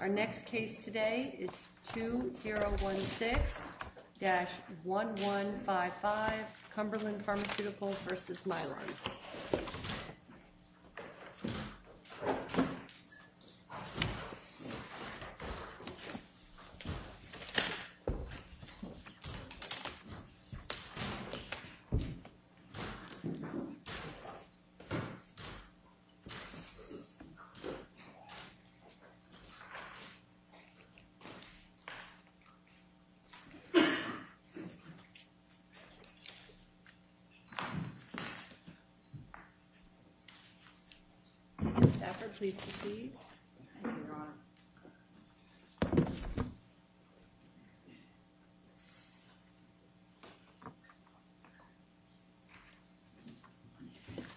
Our next case today is 2016-1155 Cumberland Pharmaceuticals v. Mylan.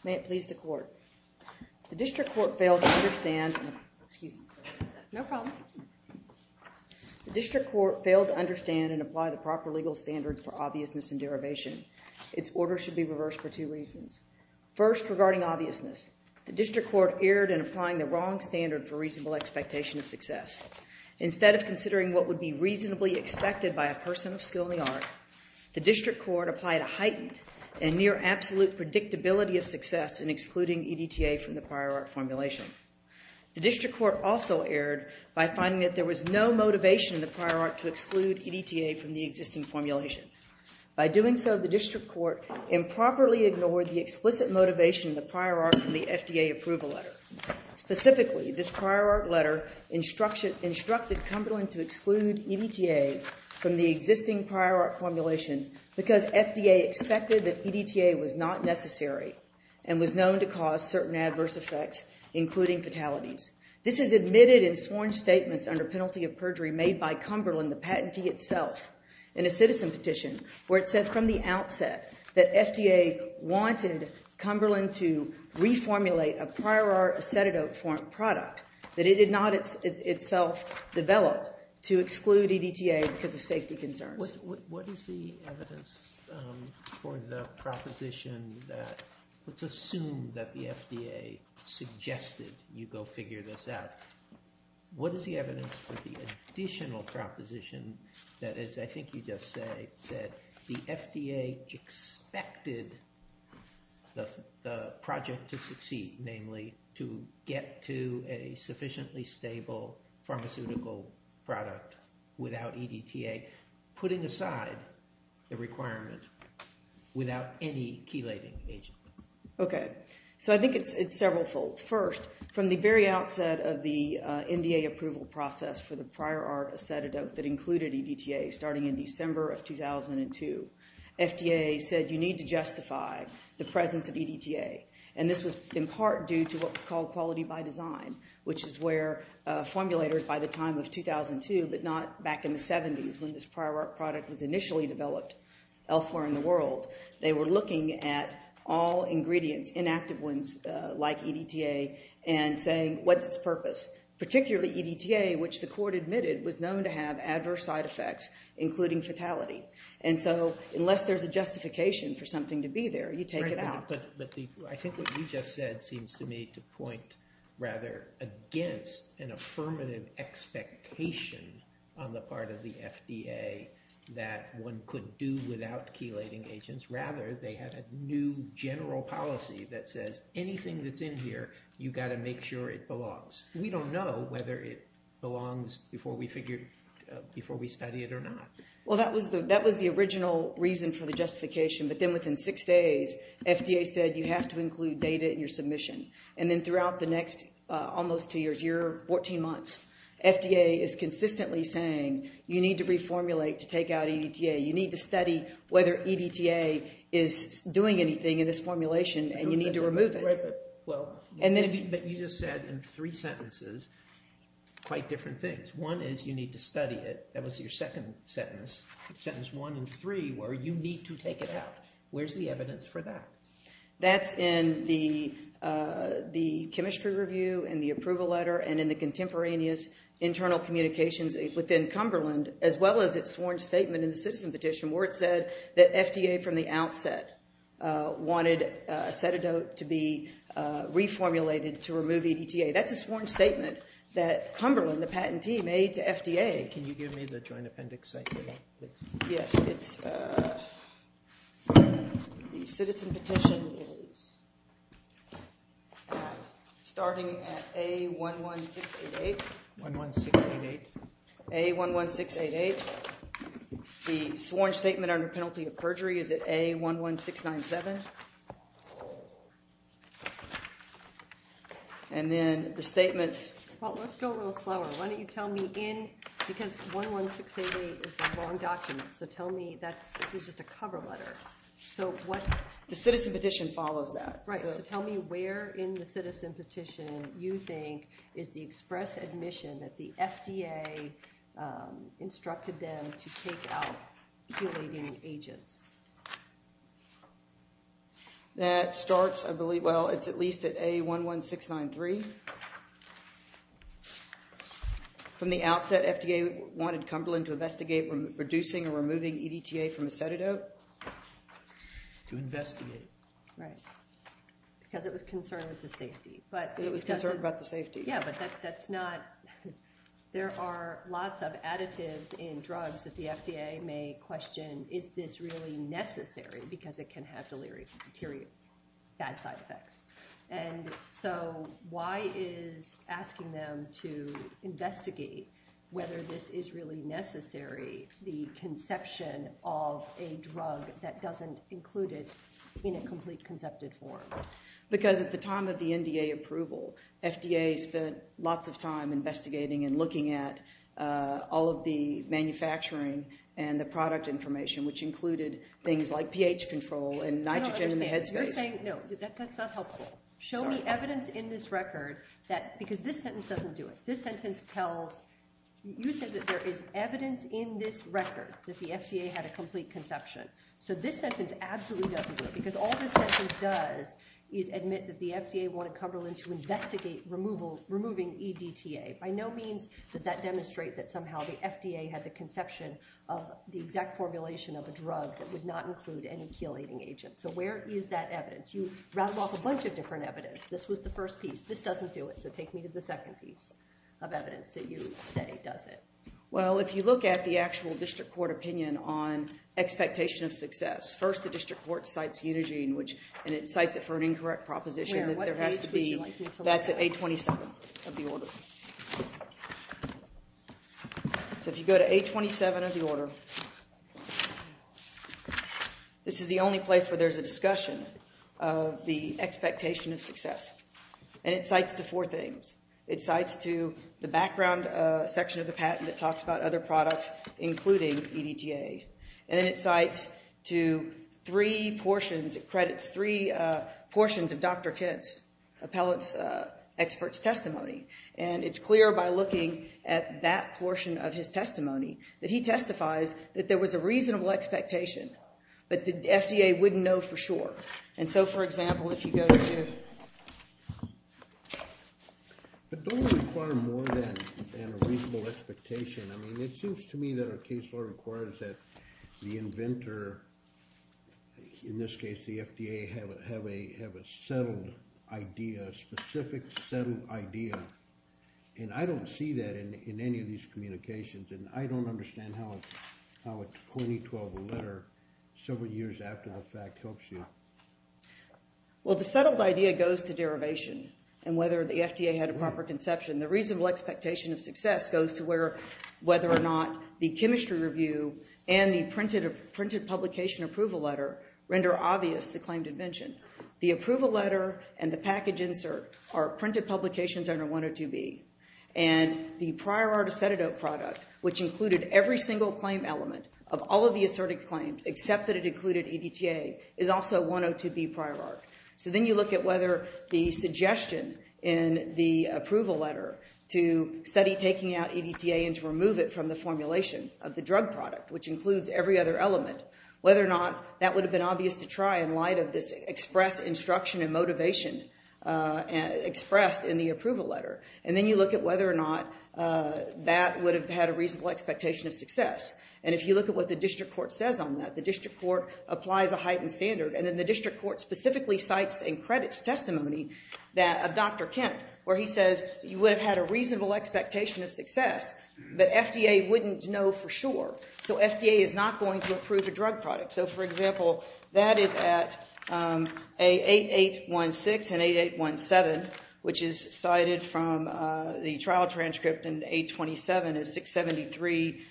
May it please the court. The district court failed to understand and apply the proper legal standards for obviousness and derivation. Its order should be reversed for two reasons. First, regarding obviousness. The district court erred in applying the wrong standard for reasonable expectation of success. Instead of considering what would be reasonably expected by a person of skill in the art, the district court applied a heightened and near-absolute predictability of success in excluding EDTA from the prior art formulation. The district court also erred by finding that there was no motivation in the prior art to exclude EDTA from the existing formulation. By doing so, the district court improperly ignored the explicit motivation in the prior art from the FDA approval letter. Specifically, this prior art letter instructed Cumberland to exclude EDTA from the existing prior art formulation because FDA expected that EDTA was not necessary and was known to cause certain adverse effects, including fatalities. This is admitted in sworn statements under penalty of perjury made by Cumberland, the patentee itself, in a citizen petition where it said from the outset that FDA wanted Cumberland to reformulate a prior art acetidote form product that it did not itself develop to exclude EDTA because of safety concerns. What is the evidence for the proposition that, let's assume that the FDA suggested you go figure this out, what is the evidence for the additional proposition that, as I think you just said, the FDA expected the project to succeed, namely to get to a sufficiently stable pharmaceutical product without EDTA, putting aside the requirement without any chelating agent? Okay, so I think it's several fold. First, from the very outset of the NDA approval process for the prior art acetidote that included EDTA starting in December of 2002, FDA said you need to justify the presence of EDTA. And this was in part due to what was called quality by design, which is where formulators by the time of 2002, but not back in the 70s when this prior art product was initially developed elsewhere in the world, they were looking at all ingredients, inactive ones like EDTA, and saying what's its purpose? Particularly EDTA, which the court admitted was known to have adverse side effects, including fatality. And so unless there's a justification for something to be there, you take it out. But I think what you just said seems to me to point rather against an affirmative expectation on the part of the FDA that one could do without chelating agents. Rather, they had a new general policy that says anything that's in here, you've got to make sure it belongs. We don't know whether it belongs before we study it or not. Well, that was the original reason for the justification. But then within six days, FDA said you have to include data in your submission. And then throughout the next almost two years, your 14 months, FDA is consistently saying you need to reformulate to take out EDTA. You need to study whether EDTA is doing anything in this formulation and you need to remove it. Right, but you just said in three sentences quite different things. One is you need to take it out. Where's the evidence for that? That's in the chemistry review and the approval letter and in the contemporaneous internal communications within Cumberland, as well as its sworn statement in the citizen petition where it said that FDA from the outset wanted acetidote to be reformulated to remove EDTA. That's a sworn statement that Cumberland, the patentee, made to FDA. Okay, can you give me the joint appendix site for that, please? Yes, it's the citizen petition is starting at A11688. 11688? A11688. The sworn statement under penalty of perjury is at A11697. And then the statement... Well, let's go a little slower. Why don't you tell me in, because 11688 is a wrong document. So tell me that's just a cover letter. The citizen petition follows that. Right, so tell me where in the citizen petition you think is the express admission that the FDA instructed them to take out heulating agents. That starts, I believe, well, it's at least at A11693. From the outset, FDA wanted Cumberland to investigate reducing or removing EDTA from acetidote. To investigate it. Right, because it was concerned with the safety. Because it was concerned about the safety. Yeah, but that's not... There are lots of additives in drugs that the FDA may question, is this really necessary, because it can have delirium deteriorate, bad side effects. And so why is asking them to investigate whether this is really necessary, the conception of a drug that doesn't include it in a complete concepted form? Because at the time of the NDA approval, FDA spent lots of time investigating and looking at all of the manufacturing and the product information, which included things like pH control and nitrogen in the head space. You're saying, no, that's not helpful. Show me evidence in this record that, because this sentence doesn't do it. This sentence tells, you said that there is evidence in this record that the FDA had a complete conception. So this sentence absolutely doesn't do it. Because all this sentence does is admit that the FDA wanted Cumberland to investigate removing EDTA. By no means does that demonstrate that somehow the FDA had the conception of the exact formulation of a drug that would not include any chelating agent. So where is that evidence? You rattled off a bunch of different evidence. This was the first piece. This doesn't do it. So take me to the second piece of evidence that you say does it. Well, if you look at the actual district court opinion on expectation of success, first the district court cites Unigine, and it cites it for an incorrect proposition. That's at 827 of the order. So if you go to 827 of the order, this is the only place where there's a discussion of the expectation of success. And it cites the four things. It cites to the background section of the patent that talks about other products, including EDTA. And then it cites to three portions. It credits three portions of Dr. Kitt's appellate expert's testimony. And it's clear by looking at that portion of his testimony that he testifies that there was a reasonable expectation, but the FDA wouldn't know for sure. And so, for example, if you go to ‑‑ But don't we require more than a reasonable expectation? I mean, it seems to me that our case law requires that the inventor, in this case the FDA, have a settled idea, a specific, settled idea. And I don't see that in any of these communications, and I don't understand how a 2012 letter several years after the fact helps you. Well, the settled idea goes to derivation and whether the FDA had a proper conception. The reasonable expectation of success goes to whether or not the chemistry review and the printed publication approval letter render obvious the claim to invention. The approval letter and the package insert are printed publications under 102B. And the prior art acetidote product, which included every single claim element of all of the asserted claims except that it included EDTA, is also 102B prior art. So then you look at whether the suggestion in the approval letter to study taking out EDTA and to remove it from the formulation of the drug product, which includes every other element, whether or not that would have been obvious to try in light of this expressed instruction and motivation expressed in the approval letter. And then you look at whether or not that would have had a reasonable expectation of success. And if you look at what the district court says on that, the district court applies a heightened standard. And then the district court specifically cites in credits testimony of Dr. Kent, where he says you would have had a reasonable expectation of success, but FDA wouldn't know for sure. So FDA is not going to approve a drug product. So, for example, that is at 8816 and 8817, which is cited from the trial transcript in 827 as 673.22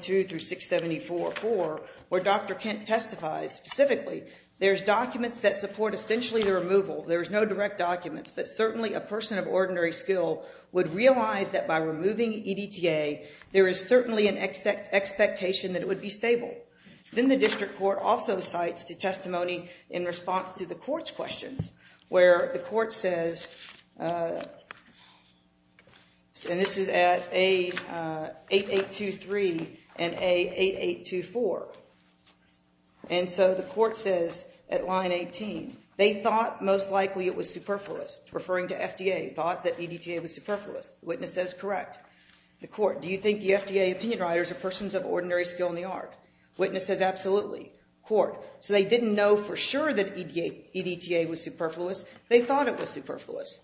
through 674.4, where Dr. Kent testifies specifically. There's documents that support essentially the removal. There's no direct documents. But certainly a person of ordinary skill would realize that by removing EDTA, there is certainly an expectation that it would be stable. Then the district court also cites the testimony in response to the court's questions, where the court says, and this is at 8823 and 8824. And so the court says at line 18, they thought most likely it was superfluous. Referring to FDA, thought that EDTA was superfluous. The witness says correct. The court, do you think the FDA opinion writers are persons of ordinary skill in the art? Witness says absolutely. Court, so they didn't know for sure that EDTA was superfluous. They thought it was superfluous.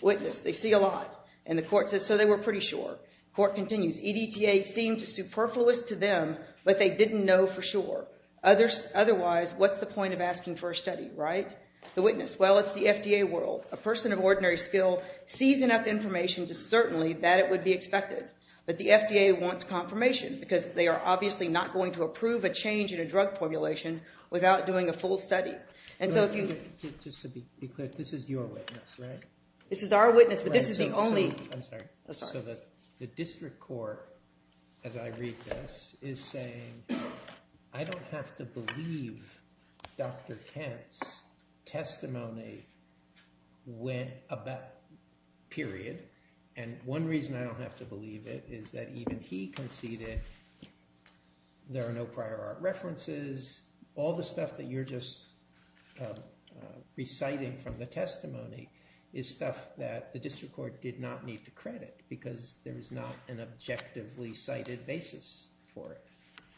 Witness, they see a lot. And the court says so they were pretty sure. Court continues, EDTA seemed superfluous to them, but they didn't know for sure. Otherwise, what's the point of asking for a study, right? The witness, well, it's the FDA world. A person of ordinary skill sees enough information to certainly that it would be expected. But the FDA wants confirmation, because they are obviously not going to approve a change in a drug formulation without doing a full study. And so if you- Just to be clear, this is your witness, right? This is our witness, but this is the only- I'm sorry. Oh, sorry. So the district court, as I read this, is saying, I don't have to believe Dr. Kent's testimony, period. And one reason I don't have to believe it is that even he conceded there are no prior art references. All the stuff that you're just reciting from the testimony is stuff that the district court did not need to credit, because there is not an objectively cited basis for it.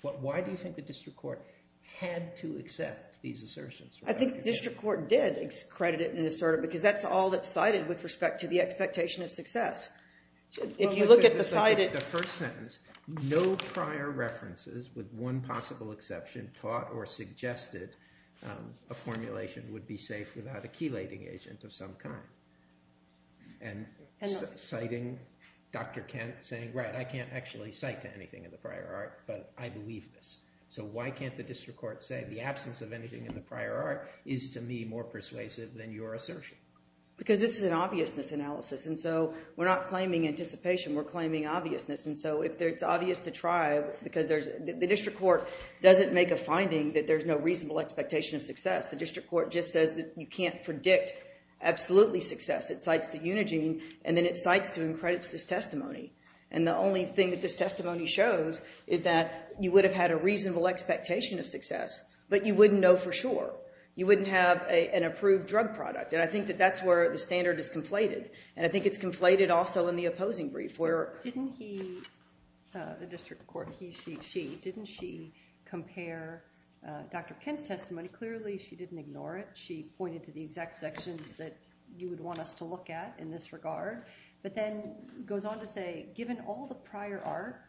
Why do you think the district court had to accept these assertions? I think the district court did credit it and assert it, because that's all that's cited with respect to the expectation of success. If you look at the cited- The first sentence, no prior references, with one possible exception, taught or suggested a formulation would be safe without a chelating agent of some kind. And citing Dr. Kent saying, right, I can't actually cite to anything in the prior art, but I believe this. So why can't the district court say the absence of anything in the prior art is, to me, more persuasive than your assertion? Because this is an obviousness analysis, and so we're not claiming anticipation. We're claiming obviousness, and so it's obvious to try, because the district court doesn't make a finding that there's no reasonable expectation of success. The district court just says that you can't predict absolutely success. It cites the Unigine, and then it cites to and credits this testimony. And the only thing that this testimony shows is that you would have had a reasonable expectation of success, but you wouldn't know for sure. You wouldn't have an approved drug product, and I think that that's where the standard is conflated, and I think it's conflated also in the opposing brief where- Didn't he, the district court, he, she, she, didn't she compare Dr. Kent's testimony? Clearly she didn't ignore it. She pointed to the exact sections that you would want us to look at in this regard, but then goes on to say, given all the prior art,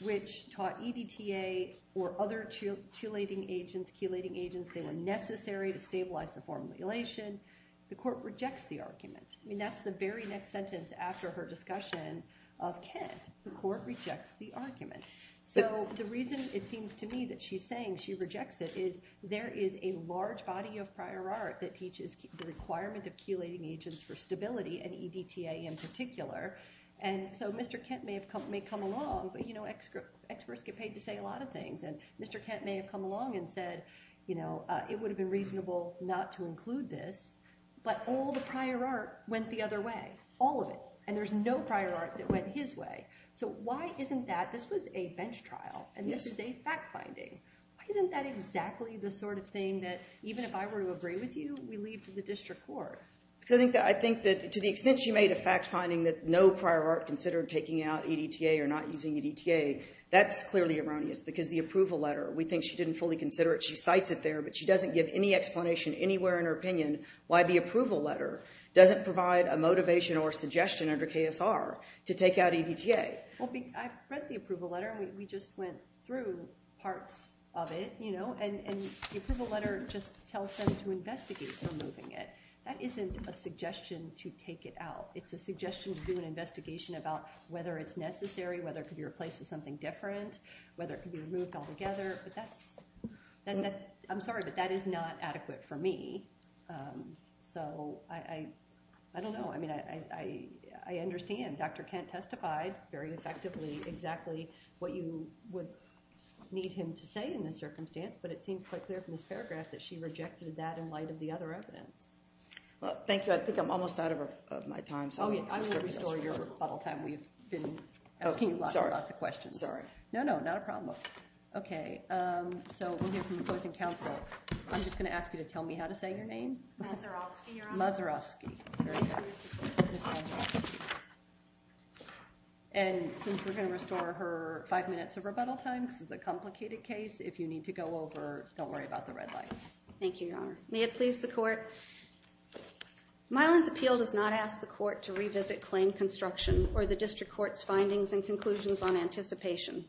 which taught EDTA or other chelating agents, chelating agents, they were necessary to stabilize the form of elation, the court rejects the argument. I mean, that's the very next sentence after her discussion of Kent. The court rejects the argument. So the reason it seems to me that she's saying she rejects it is there is a large body of prior art that teaches the requirement of chelating agents for stability, and EDTA in particular. And so Mr. Kent may have come, may come along, but you know experts get paid to say a lot of things, and Mr. Kent may have come along and said, you know, it would have been reasonable not to include this, but all the prior art went the other way, all of it, and there's no prior art that went his way. So why isn't that, this was a bench trial, and this is a fact finding. Why isn't that exactly the sort of thing that, even if I were to agree with you, we leave to the district court? Because I think that to the extent she made a fact finding that no prior art considered taking out EDTA or not using EDTA, that's clearly erroneous, because the approval letter, we think she didn't fully consider it, she cites it there, but she doesn't give any explanation anywhere in her opinion why the approval letter doesn't provide a motivation or suggestion under KSR to take out EDTA. Well, I've read the approval letter, and we just went through parts of it, you know, and the approval letter just tells them to investigate removing it. That isn't a suggestion to take it out. It's a suggestion to do an investigation about whether it's necessary, whether it could be replaced with something different, whether it could be removed altogether, but that's, I'm sorry, but that is not adequate for me. So I don't know. I mean, I understand Dr. Kent testified very effectively exactly what you would need him to say in this circumstance, but it seems quite clear from this paragraph that she rejected that in light of the other evidence. Well, thank you. I think I'm almost out of my time. Oh, yeah. I will restore your rebuttal time. We've been asking you lots and lots of questions. Sorry. No, no, not a problem. Okay. So we'll hear from the closing counsel. I'm just going to ask you to tell me how to say your name. Mazerowski, Your Honor. Mazerowski. Very good. Ms. Mazerowski. And since we're going to restore her five minutes of rebuttal time, this is a complicated case. If you need to go over, don't worry about the red light. Thank you, Your Honor. May it please the court. Mylan's appeal does not ask the court to revisit claim construction or the district court's findings and conclusions on anticipation.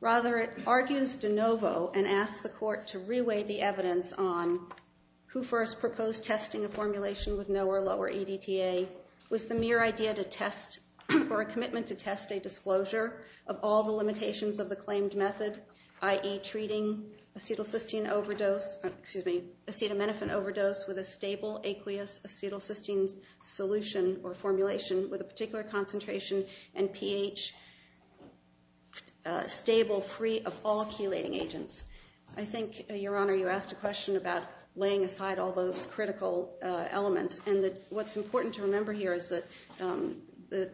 Rather, it argues de novo and asks the court to reweigh the evidence on who first proposed testing a formulation with no or lower EDTA, was the mere idea to test or a commitment to test a disclosure of all the limitations of the claimed method, i.e., treating acetaminophen overdose with a stable aqueous acetylcysteine solution or formulation with a particular concentration and pH stable free of all chelating agents. I think, Your Honor, you asked a question about laying aside all those critical elements, and what's important to remember here is that the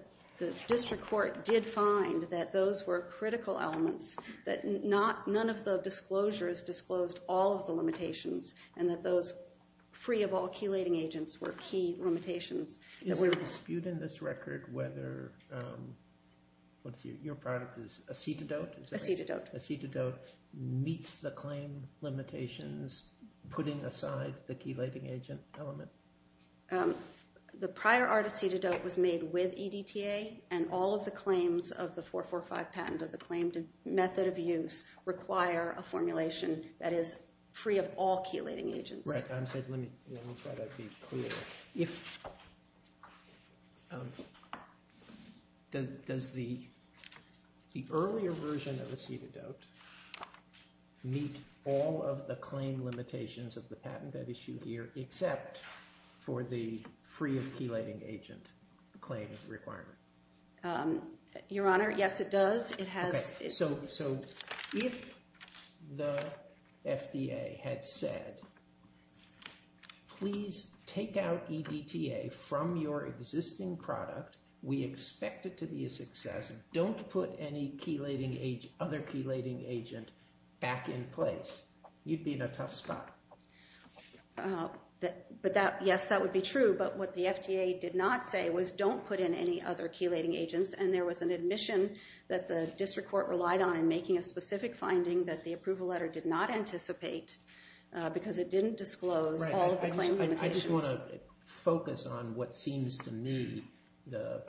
district court did find that those were critical elements, that none of the disclosures disclosed all of the limitations and that those free of all chelating agents were key limitations. Is there a dispute in this record whether your product is acetidote? Acetidote. Acetidote meets the claim limitations, putting aside the chelating agent element? The prior art acetidote was made with EDTA, and all of the claims of the 445 patent of the claimed method of use require a formulation that is free of all chelating agents. Let me try to be clear. Does the earlier version of acetidote meet all of the claim limitations of the patent I've issued here, except for the free of chelating agent claim requirement? Your Honor, yes, it does. So if the FDA had said, please take out EDTA from your existing product, we expect it to be a success, don't put any other chelating agent back in place, you'd be in a tough spot. Yes, that would be true, but what the FDA did not say was don't put in any other chelating agents, and there was an admission that the district court relied on in making a specific finding that the approval letter did not anticipate because it didn't disclose all of the claim limitations. I just want to focus on what seems to me the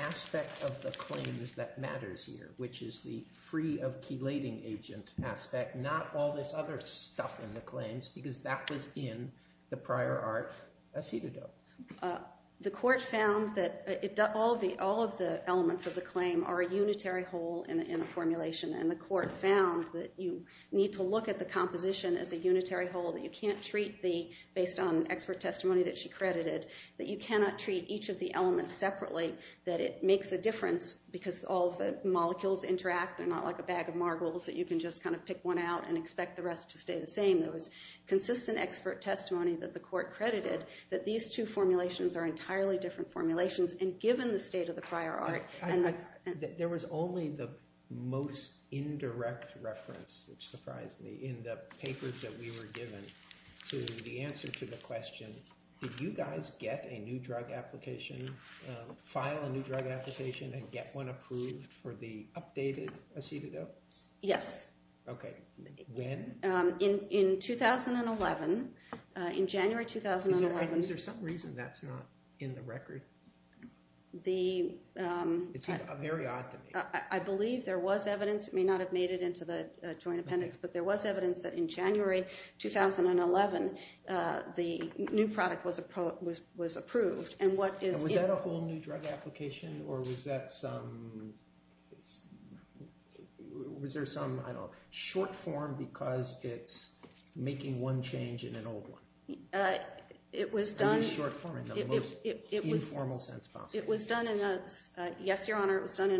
aspect of the claims that matters here, which is the free of chelating agent aspect, not all this other stuff in the claims, because that was in the prior art acetidote. The court found that all of the elements of the claim are a unitary hole in a formulation, and the court found that you need to look at the composition as a unitary hole, that you can't treat the, based on expert testimony that she credited, that you cannot treat each of the elements separately, that it makes a difference because all of the molecules interact. They're not like a bag of marbles that you can just kind of pick one out and expect the rest to stay the same. There was consistent expert testimony that the court credited that these two formulations are entirely different formulations, and given the state of the prior art. There was only the most indirect reference, which surprised me, in the papers that we were given to the answer to the question, did you guys get a new drug application, file a new drug application and get one approved for the updated acetidote? Yes. Okay. When? In 2011, in January 2011. Is there some reason that's not in the record? It's very odd to me. I believe there was evidence. It may not have made it into the joint appendix, but there was evidence that in January 2011 the new product was approved. Was that a whole new drug application or was there some short form because it's making one change in an old one? It was done in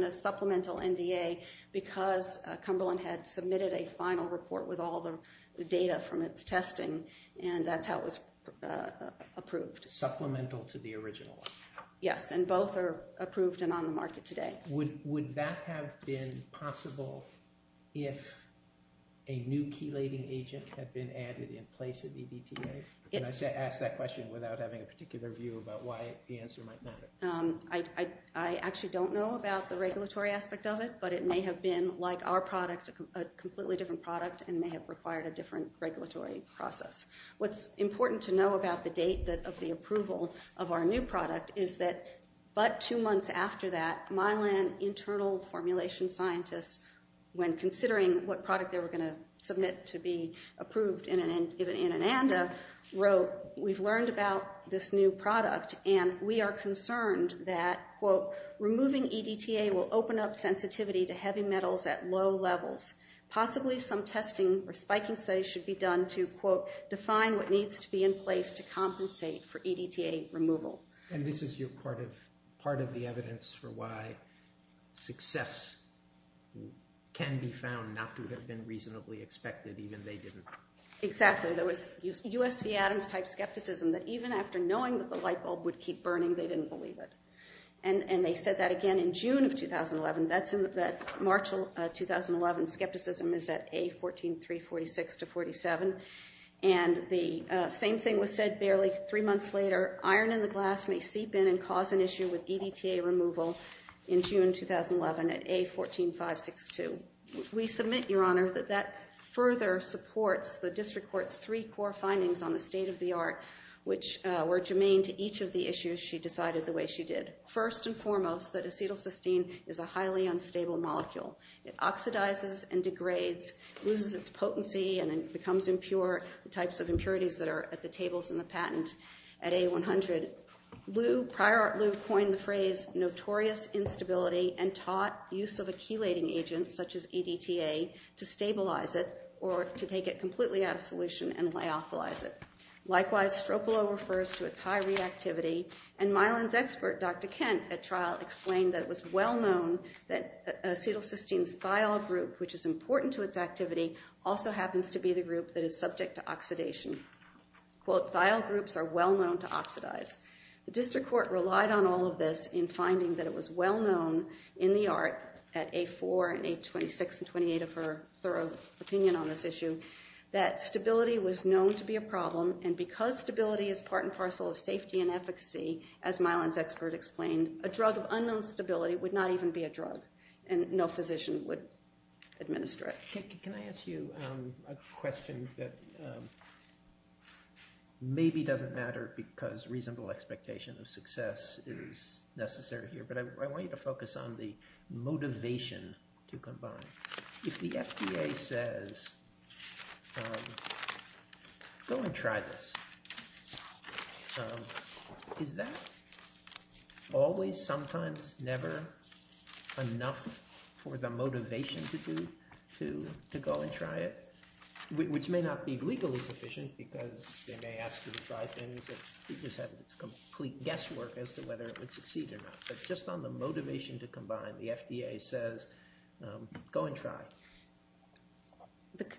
a supplemental NDA because Cumberland had submitted a final report with all the data from its testing, and that's how it was approved. Supplemental to the original one? Yes, and both are approved and on the market today. Would that have been possible if a new chelating agent had been added in place of EDTA? Can I ask that question without having a particular view about why the answer might matter? I actually don't know about the regulatory aspect of it, but it may have been, like our product, a completely different product and may have required a different regulatory process. What's important to know about the date of the approval of our new product is that but two months after that, Mylan internal formulation scientists, when considering what product they were going to submit to be approved in an ANDA, wrote, we've learned about this new product and we are concerned that, quote, to heavy metals at low levels. Possibly some testing or spiking studies should be done to, quote, define what needs to be in place to compensate for EDTA removal. And this is part of the evidence for why success can be found not to have been reasonably expected, even they didn't. Exactly. There was U.S. V. Adams-type skepticism that even after knowing that the light bulb would keep burning, they didn't believe it. And they said that again in June of 2011. That March of 2011 skepticism is at A14346-47. And the same thing was said barely three months later. Iron in the glass may seep in and cause an issue with EDTA removal in June 2011 at A14562. We submit, Your Honor, that that further supports the district court's three core findings on the state of the art, which were germane to each of the issues she decided the way she did. First and foremost, that acetylcysteine is a highly unstable molecule. It oxidizes and degrades, loses its potency and becomes impure, the types of impurities that are at the tables in the patent at A100. Prior Art Lew coined the phrase notorious instability and taught use of a chelating agent such as EDTA to stabilize it or to take it completely out of solution and lyophilize it. Likewise, stropilo refers to its high reactivity. And Mylan's expert, Dr. Kent, at trial explained that it was well-known that acetylcysteine's thiol group, which is important to its activity, also happens to be the group that is subject to oxidation. Quote, thiol groups are well-known to oxidize. The district court relied on all of this in finding that it was well-known in the art at A4 and A26 and 28 of her thorough opinion on this issue that stability was known to be a problem and because stability is part and parcel of safety and efficacy, as Mylan's expert explained, a drug of unknown stability would not even be a drug and no physician would administer it. Can I ask you a question that maybe doesn't matter because reasonable expectation of success is necessary here, but I want you to focus on the motivation to combine. If the FDA says, go and try this, is that always, sometimes, never enough for the motivation to go and try it? Which may not be legally sufficient because they may ask you to try things that you just have this complete guesswork as to whether it would succeed or not. But just on the motivation to combine, the FDA says, go and try.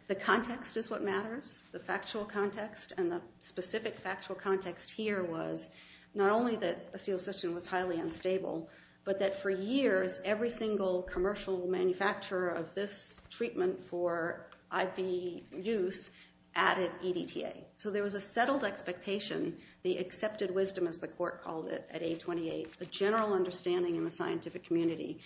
The context is what matters, the factual context, and the specific factual context here was not only that acetylcysteine was highly unstable, but that for years every single commercial manufacturer of this treatment for IV use added EDTA. So there was a settled expectation, the accepted wisdom as the court called it at A28, a general understanding in the scientific community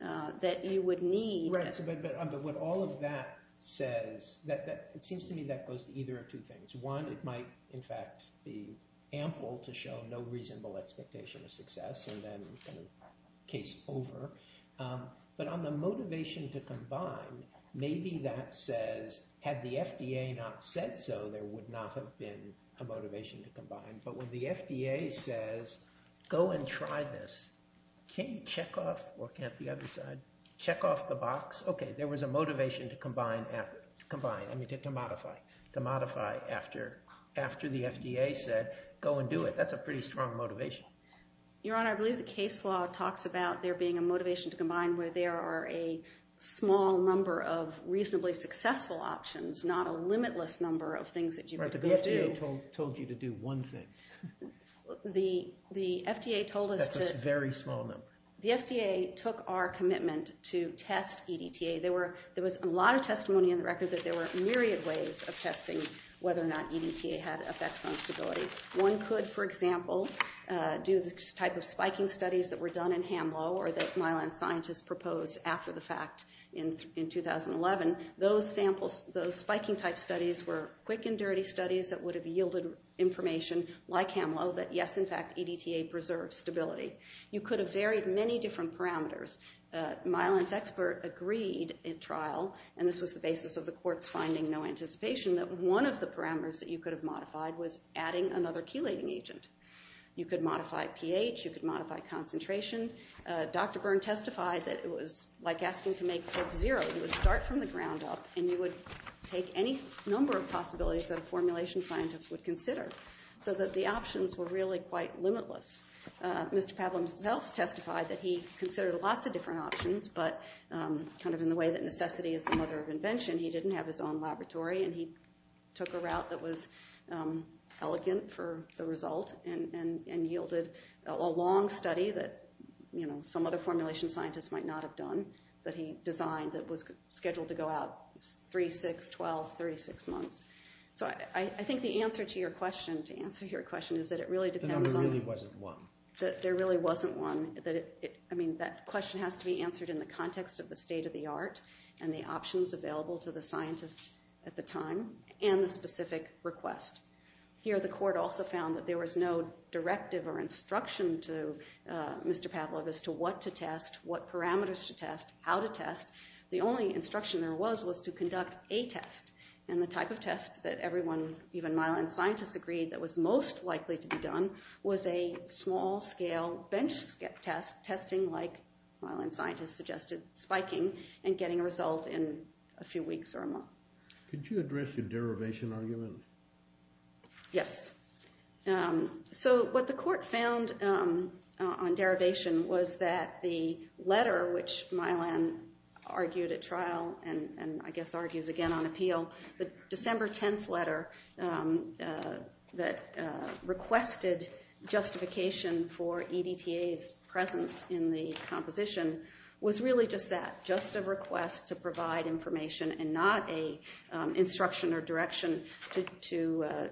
that you would need. But what all of that says, it seems to me that goes to either of two things. One, it might, in fact, be ample to show no reasonable expectation of success and then case over. But on the motivation to combine, maybe that says, had the FDA not said so, but when the FDA says, go and try this, can't you check off, or can't the other side, check off the box? Okay, there was a motivation to combine, I mean to modify, to modify after the FDA said, go and do it. That's a pretty strong motivation. Your Honor, I believe the case law talks about there being a motivation to combine where there are a small number of reasonably successful options, not a limitless number of things that you could do. The FDA told you to do one thing. The FDA told us to... That's a very small number. The FDA took our commitment to test EDTA. There was a lot of testimony in the record that there were myriad ways of testing whether or not EDTA had effects on stability. One could, for example, do the type of spiking studies that were done in HAMLO or that Mylan scientists proposed after the fact in 2011. Those spiking type studies were quick and dirty studies that would have yielded information like HAMLO that yes, in fact, EDTA preserves stability. You could have varied many different parameters. Mylan's expert agreed in trial, and this was the basis of the court's finding, no anticipation, that one of the parameters that you could have modified was adding another chelating agent. You could modify pH. You could modify concentration. Dr. Byrne testified that it was like asking to make Corp Zero. You would start from the ground up, and you would take any number of possibilities that a formulation scientist would consider so that the options were really quite limitless. Mr. Pavel himself testified that he considered lots of different options, but kind of in the way that necessity is the mother of invention, he didn't have his own laboratory, and he took a route that was elegant for the result and yielded a long study that some other formulation scientist might not have done that he designed that was scheduled to go out 3, 6, 12, 36 months. So I think the answer to your question, to answer your question, is that it really depends on... There really wasn't one. There really wasn't one. I mean, that question has to be answered in the context of the state of the art and the options available to the scientist at the time and the specific request. Here the court also found that there was no directive or instruction to Mr. Pavlov as to what to test, what parameters to test, how to test. The only instruction there was was to conduct a test, and the type of test that everyone, even myelin scientists, agreed that was most likely to be done was a small-scale bench test, testing like myelin scientists suggested, spiking and getting a result in a few weeks or a month. Could you address the derivation argument? Yes. So what the court found on derivation was that the letter which myelin argued at trial and I guess argues again on appeal, the December 10th letter that requested justification for EDTA's presence in the composition was really just that, just a request to provide information and not an instruction or direction to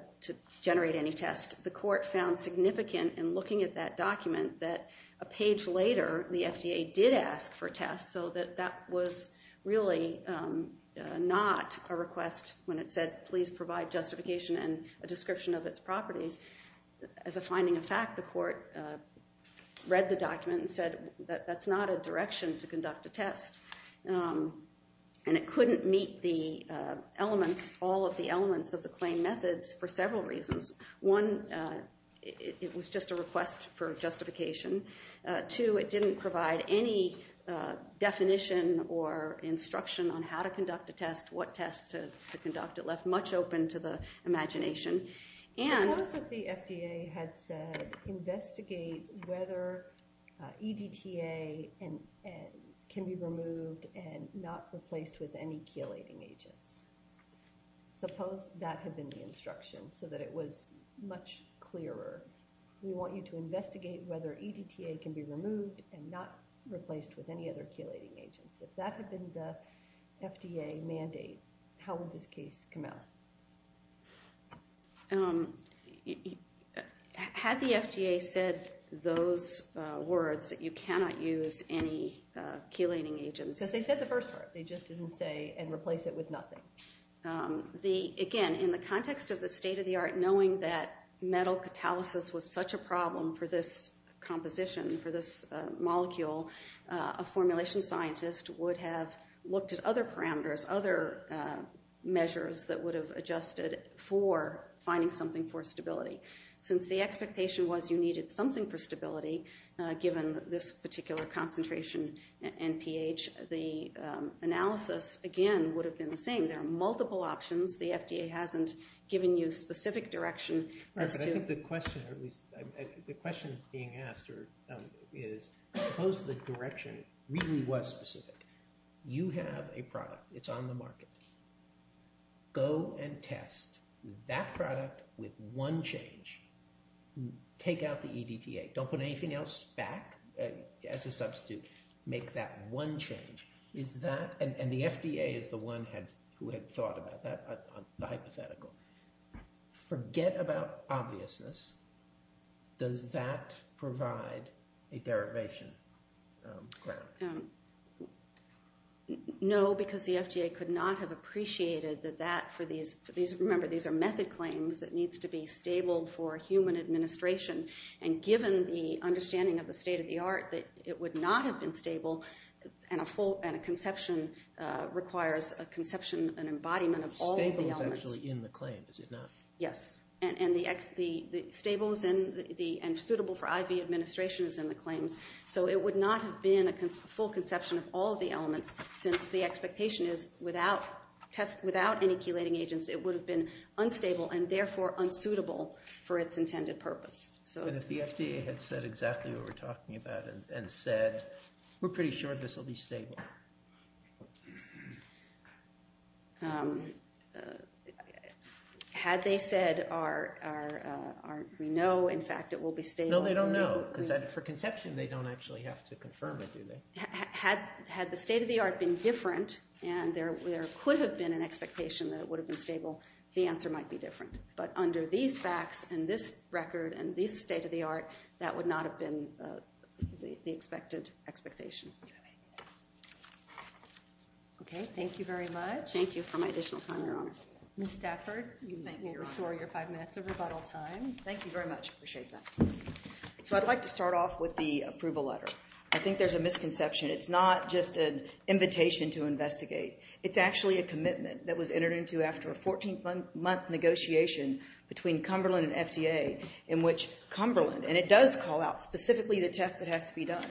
generate any test. The court found significant in looking at that document that a page later the FDA did ask for tests, so that that was really not a request when it said, please provide justification and a description of its properties. As a finding of fact, the court read the document and said, that's not a direction to conduct a test, and it couldn't meet all of the elements of the claim methods for several reasons. One, it was just a request for justification. Two, it didn't provide any definition or instruction on how to conduct a test, what test to conduct. It left much open to the imagination. Suppose that the FDA had said, investigate whether EDTA can be removed and not replaced with any chelating agents. Suppose that had been the instruction so that it was much clearer. We want you to investigate whether EDTA can be removed and not replaced with any other chelating agents. If that had been the FDA mandate, how would this case come out? Had the FDA said those words, that you cannot use any chelating agents? Because they said the first part. They just didn't say, and replace it with nothing. Again, in the context of the state of the art, knowing that metal catalysis was such a problem for this composition, for this molecule, a formulation scientist would have looked at other parameters, other measures that would have adjusted for finding something for stability. Since the expectation was you needed something for stability, given this particular concentration and pH, the analysis, again, would have been the same. There are multiple options. The FDA hasn't given you specific direction. I think the question being asked is, suppose the direction really was specific. You have a product. It's on the market. Go and test that product with one change. Take out the EDTA. Don't put anything else back as a substitute. Make that one change. And the FDA is the one who had thought about that, the hypothetical. Forget about obviousness. Does that provide a derivation? No, because the FDA could not have appreciated that that for these, remember these are method claims that needs to be stable for human administration. And given the understanding of the state of the art, that it would not have been stable, and a conception requires a conception, an embodiment of all of the elements. It's actually in the claim, is it not? Yes. And the stables and suitable for IV administration is in the claims. So it would not have been a full conception of all of the elements, since the expectation is without any chelating agents, it would have been unstable and therefore unsuitable for its intended purpose. But if the FDA had said exactly what we're talking about and said, we're pretty sure this will be stable. Had they said, we know, in fact, it will be stable. No, they don't know, because for conception they don't actually have to confirm it, do they? Had the state of the art been different, and there could have been an expectation that it would have been stable, the answer might be different. But under these facts and this record and this state of the art, that would not have been the expected expectation. Okay, thank you very much. Thank you for my additional time, Your Honor. Ms. Stafford, you may restore your five minutes of rebuttal time. Thank you very much. I appreciate that. So I'd like to start off with the approval letter. I think there's a misconception. It's not just an invitation to investigate. It's actually a commitment that was entered into after a 14-month negotiation between Cumberland and FDA in which Cumberland, and it does call out specifically the test that has to be done,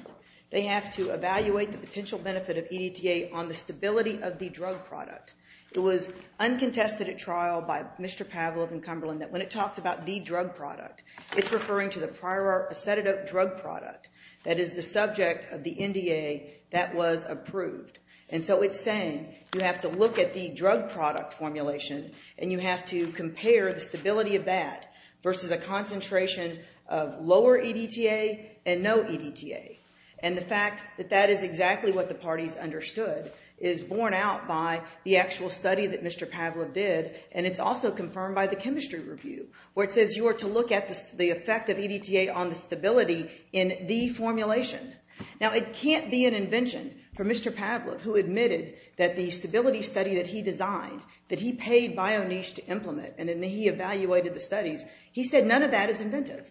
they have to evaluate the potential benefit of EDTA on the stability of the drug product. It was uncontested at trial by Mr. Pavlov and Cumberland that when it talks about the drug product, it's referring to the prior acetidote drug product that is the subject of the NDA that was approved. And so it's saying you have to look at the drug product formulation and you have to compare the stability of that versus a concentration of lower EDTA and no EDTA. And the fact that that is exactly what the parties understood is borne out by the actual study that Mr. Pavlov did and it's also confirmed by the chemistry review where it says you are to look at the effect of EDTA on the stability in the formulation. Now, it can't be an invention for Mr. Pavlov who admitted that the stability study that he designed, that he paid BioNiche to implement and then he evaluated the studies, he said none of that is inventive.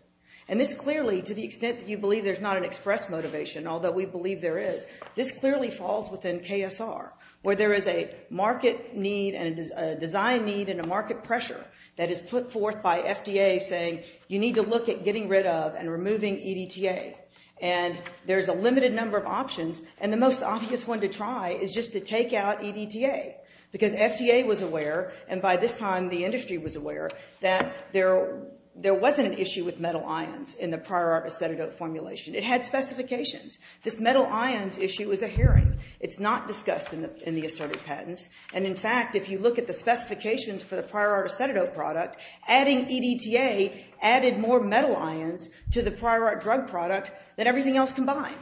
And this clearly, to the extent that you believe there's not an express motivation, although we believe there is, this clearly falls within KSR where there is a market need and a design need and a market pressure that is put forth by FDA saying you need to look at getting rid of and removing EDTA. And there's a limited number of options and the most obvious one to try is just to take out EDTA because FDA was aware and by this time the industry was aware that there wasn't an issue with metal ions in the prior art acetidote formulation. It had specifications. This metal ions issue is a hearing. It's not discussed in the assertive patents and, in fact, if you look at the specifications for the prior art acetidote product, adding EDTA added more metal ions to the prior art drug product than everything else combined.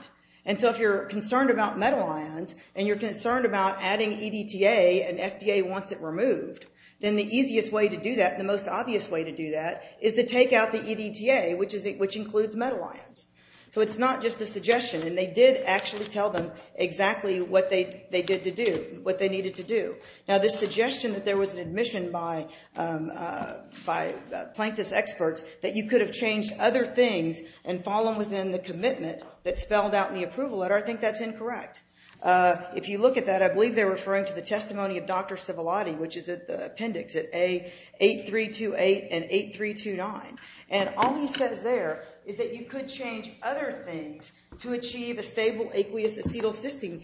And so if you're concerned about metal ions and you're concerned about adding EDTA and FDA wants it removed, then the easiest way to do that, the most obvious way to do that, is to take out the EDTA, which includes metal ions. So it's not just a suggestion and they did actually tell them exactly what they did to do, what they needed to do. Now this suggestion that there was an admission by Plankton's experts that you could have changed other things and fallen within the commitment that's spelled out in the approval letter, I think that's incorrect. If you look at that, I believe they're referring to the testimony of Dr. Civilotti, which is at the appendix at A8328 and 8329. And all he says there is that you could change other things to achieve a stable aqueous acetylcysteine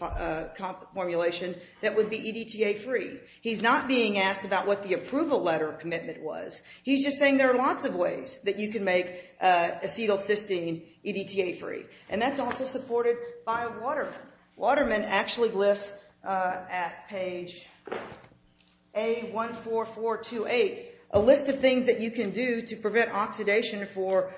formulation that would be EDTA free. He's not being asked about what the approval letter commitment was. He's just saying there are lots of ways that you can make acetylcysteine EDTA free. And that's also supported by Waterman. Waterman actually lists at page A14428 a list of things that you can do to prevent oxidation for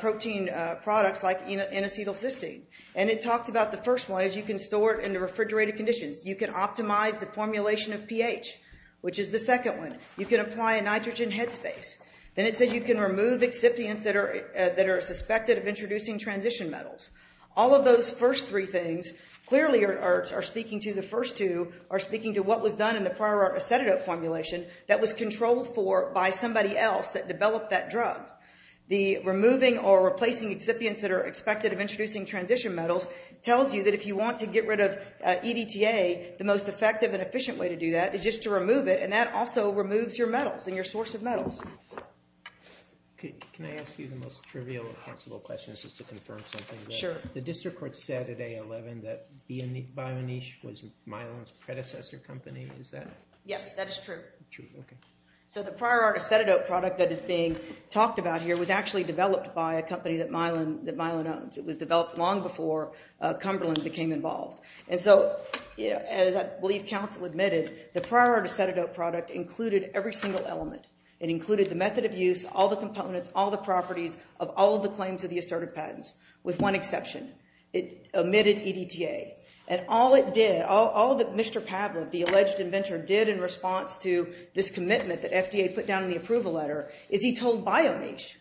protein products like in acetylcysteine. And it talks about the first one is you can store it in the refrigerator conditions. You can optimize the formulation of pH, which is the second one. You can apply a nitrogen headspace. Then it says you can remove excipients that are suspected of introducing transition metals. All of those first three things clearly are speaking to the first two, are speaking to what was done in the prior art acetate formulation that was controlled for by somebody else that developed that drug. The removing or replacing excipients that are expected of introducing transition metals tells you that if you want to get rid of EDTA, the most effective and efficient way to do that is just to remove it, and that also removes your metals and your source of metals. Can I ask you the most trivial of possible questions just to confirm something? Sure. The district court said at A11 that BioNiche was Mylan's predecessor company. Yes, that is true. So the prior art acetate product that is being talked about here was actually developed by a company that Mylan owns. It was developed long before Cumberland became involved. And so, as I believe counsel admitted, the prior art acetate product included every single element. It included the method of use, all the components, all the properties of all of the claims of the assertive patents, with one exception. It omitted EDTA. And all it did, all that Mr. Pavlov, the alleged inventor, did in response to this commitment that FDA put down in the approval letter is he told BioNiche,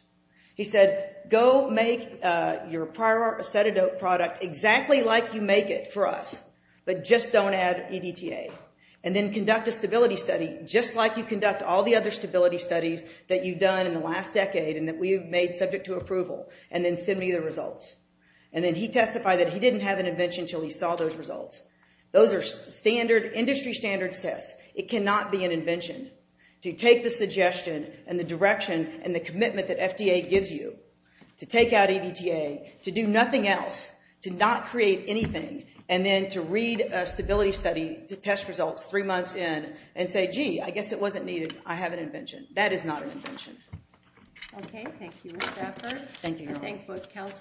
he said, Go make your prior art acetate product exactly like you make it for us, but just don't add EDTA. And then conduct a stability study just like you conduct all the other stability studies that you've done in the last decade and that we have made subject to approval, and then send me the results. And then he testified that he didn't have an invention until he saw those results. Those are industry standards tests. It cannot be an invention. To take the suggestion and the direction and the commitment that FDA gives you to take out EDTA, to do nothing else, to not create anything, and then to read a stability study to test results three months in and say, Gee, I guess it wasn't needed. I have an invention. That is not an invention. Okay, thank you, Ms. Stafford. Thank you.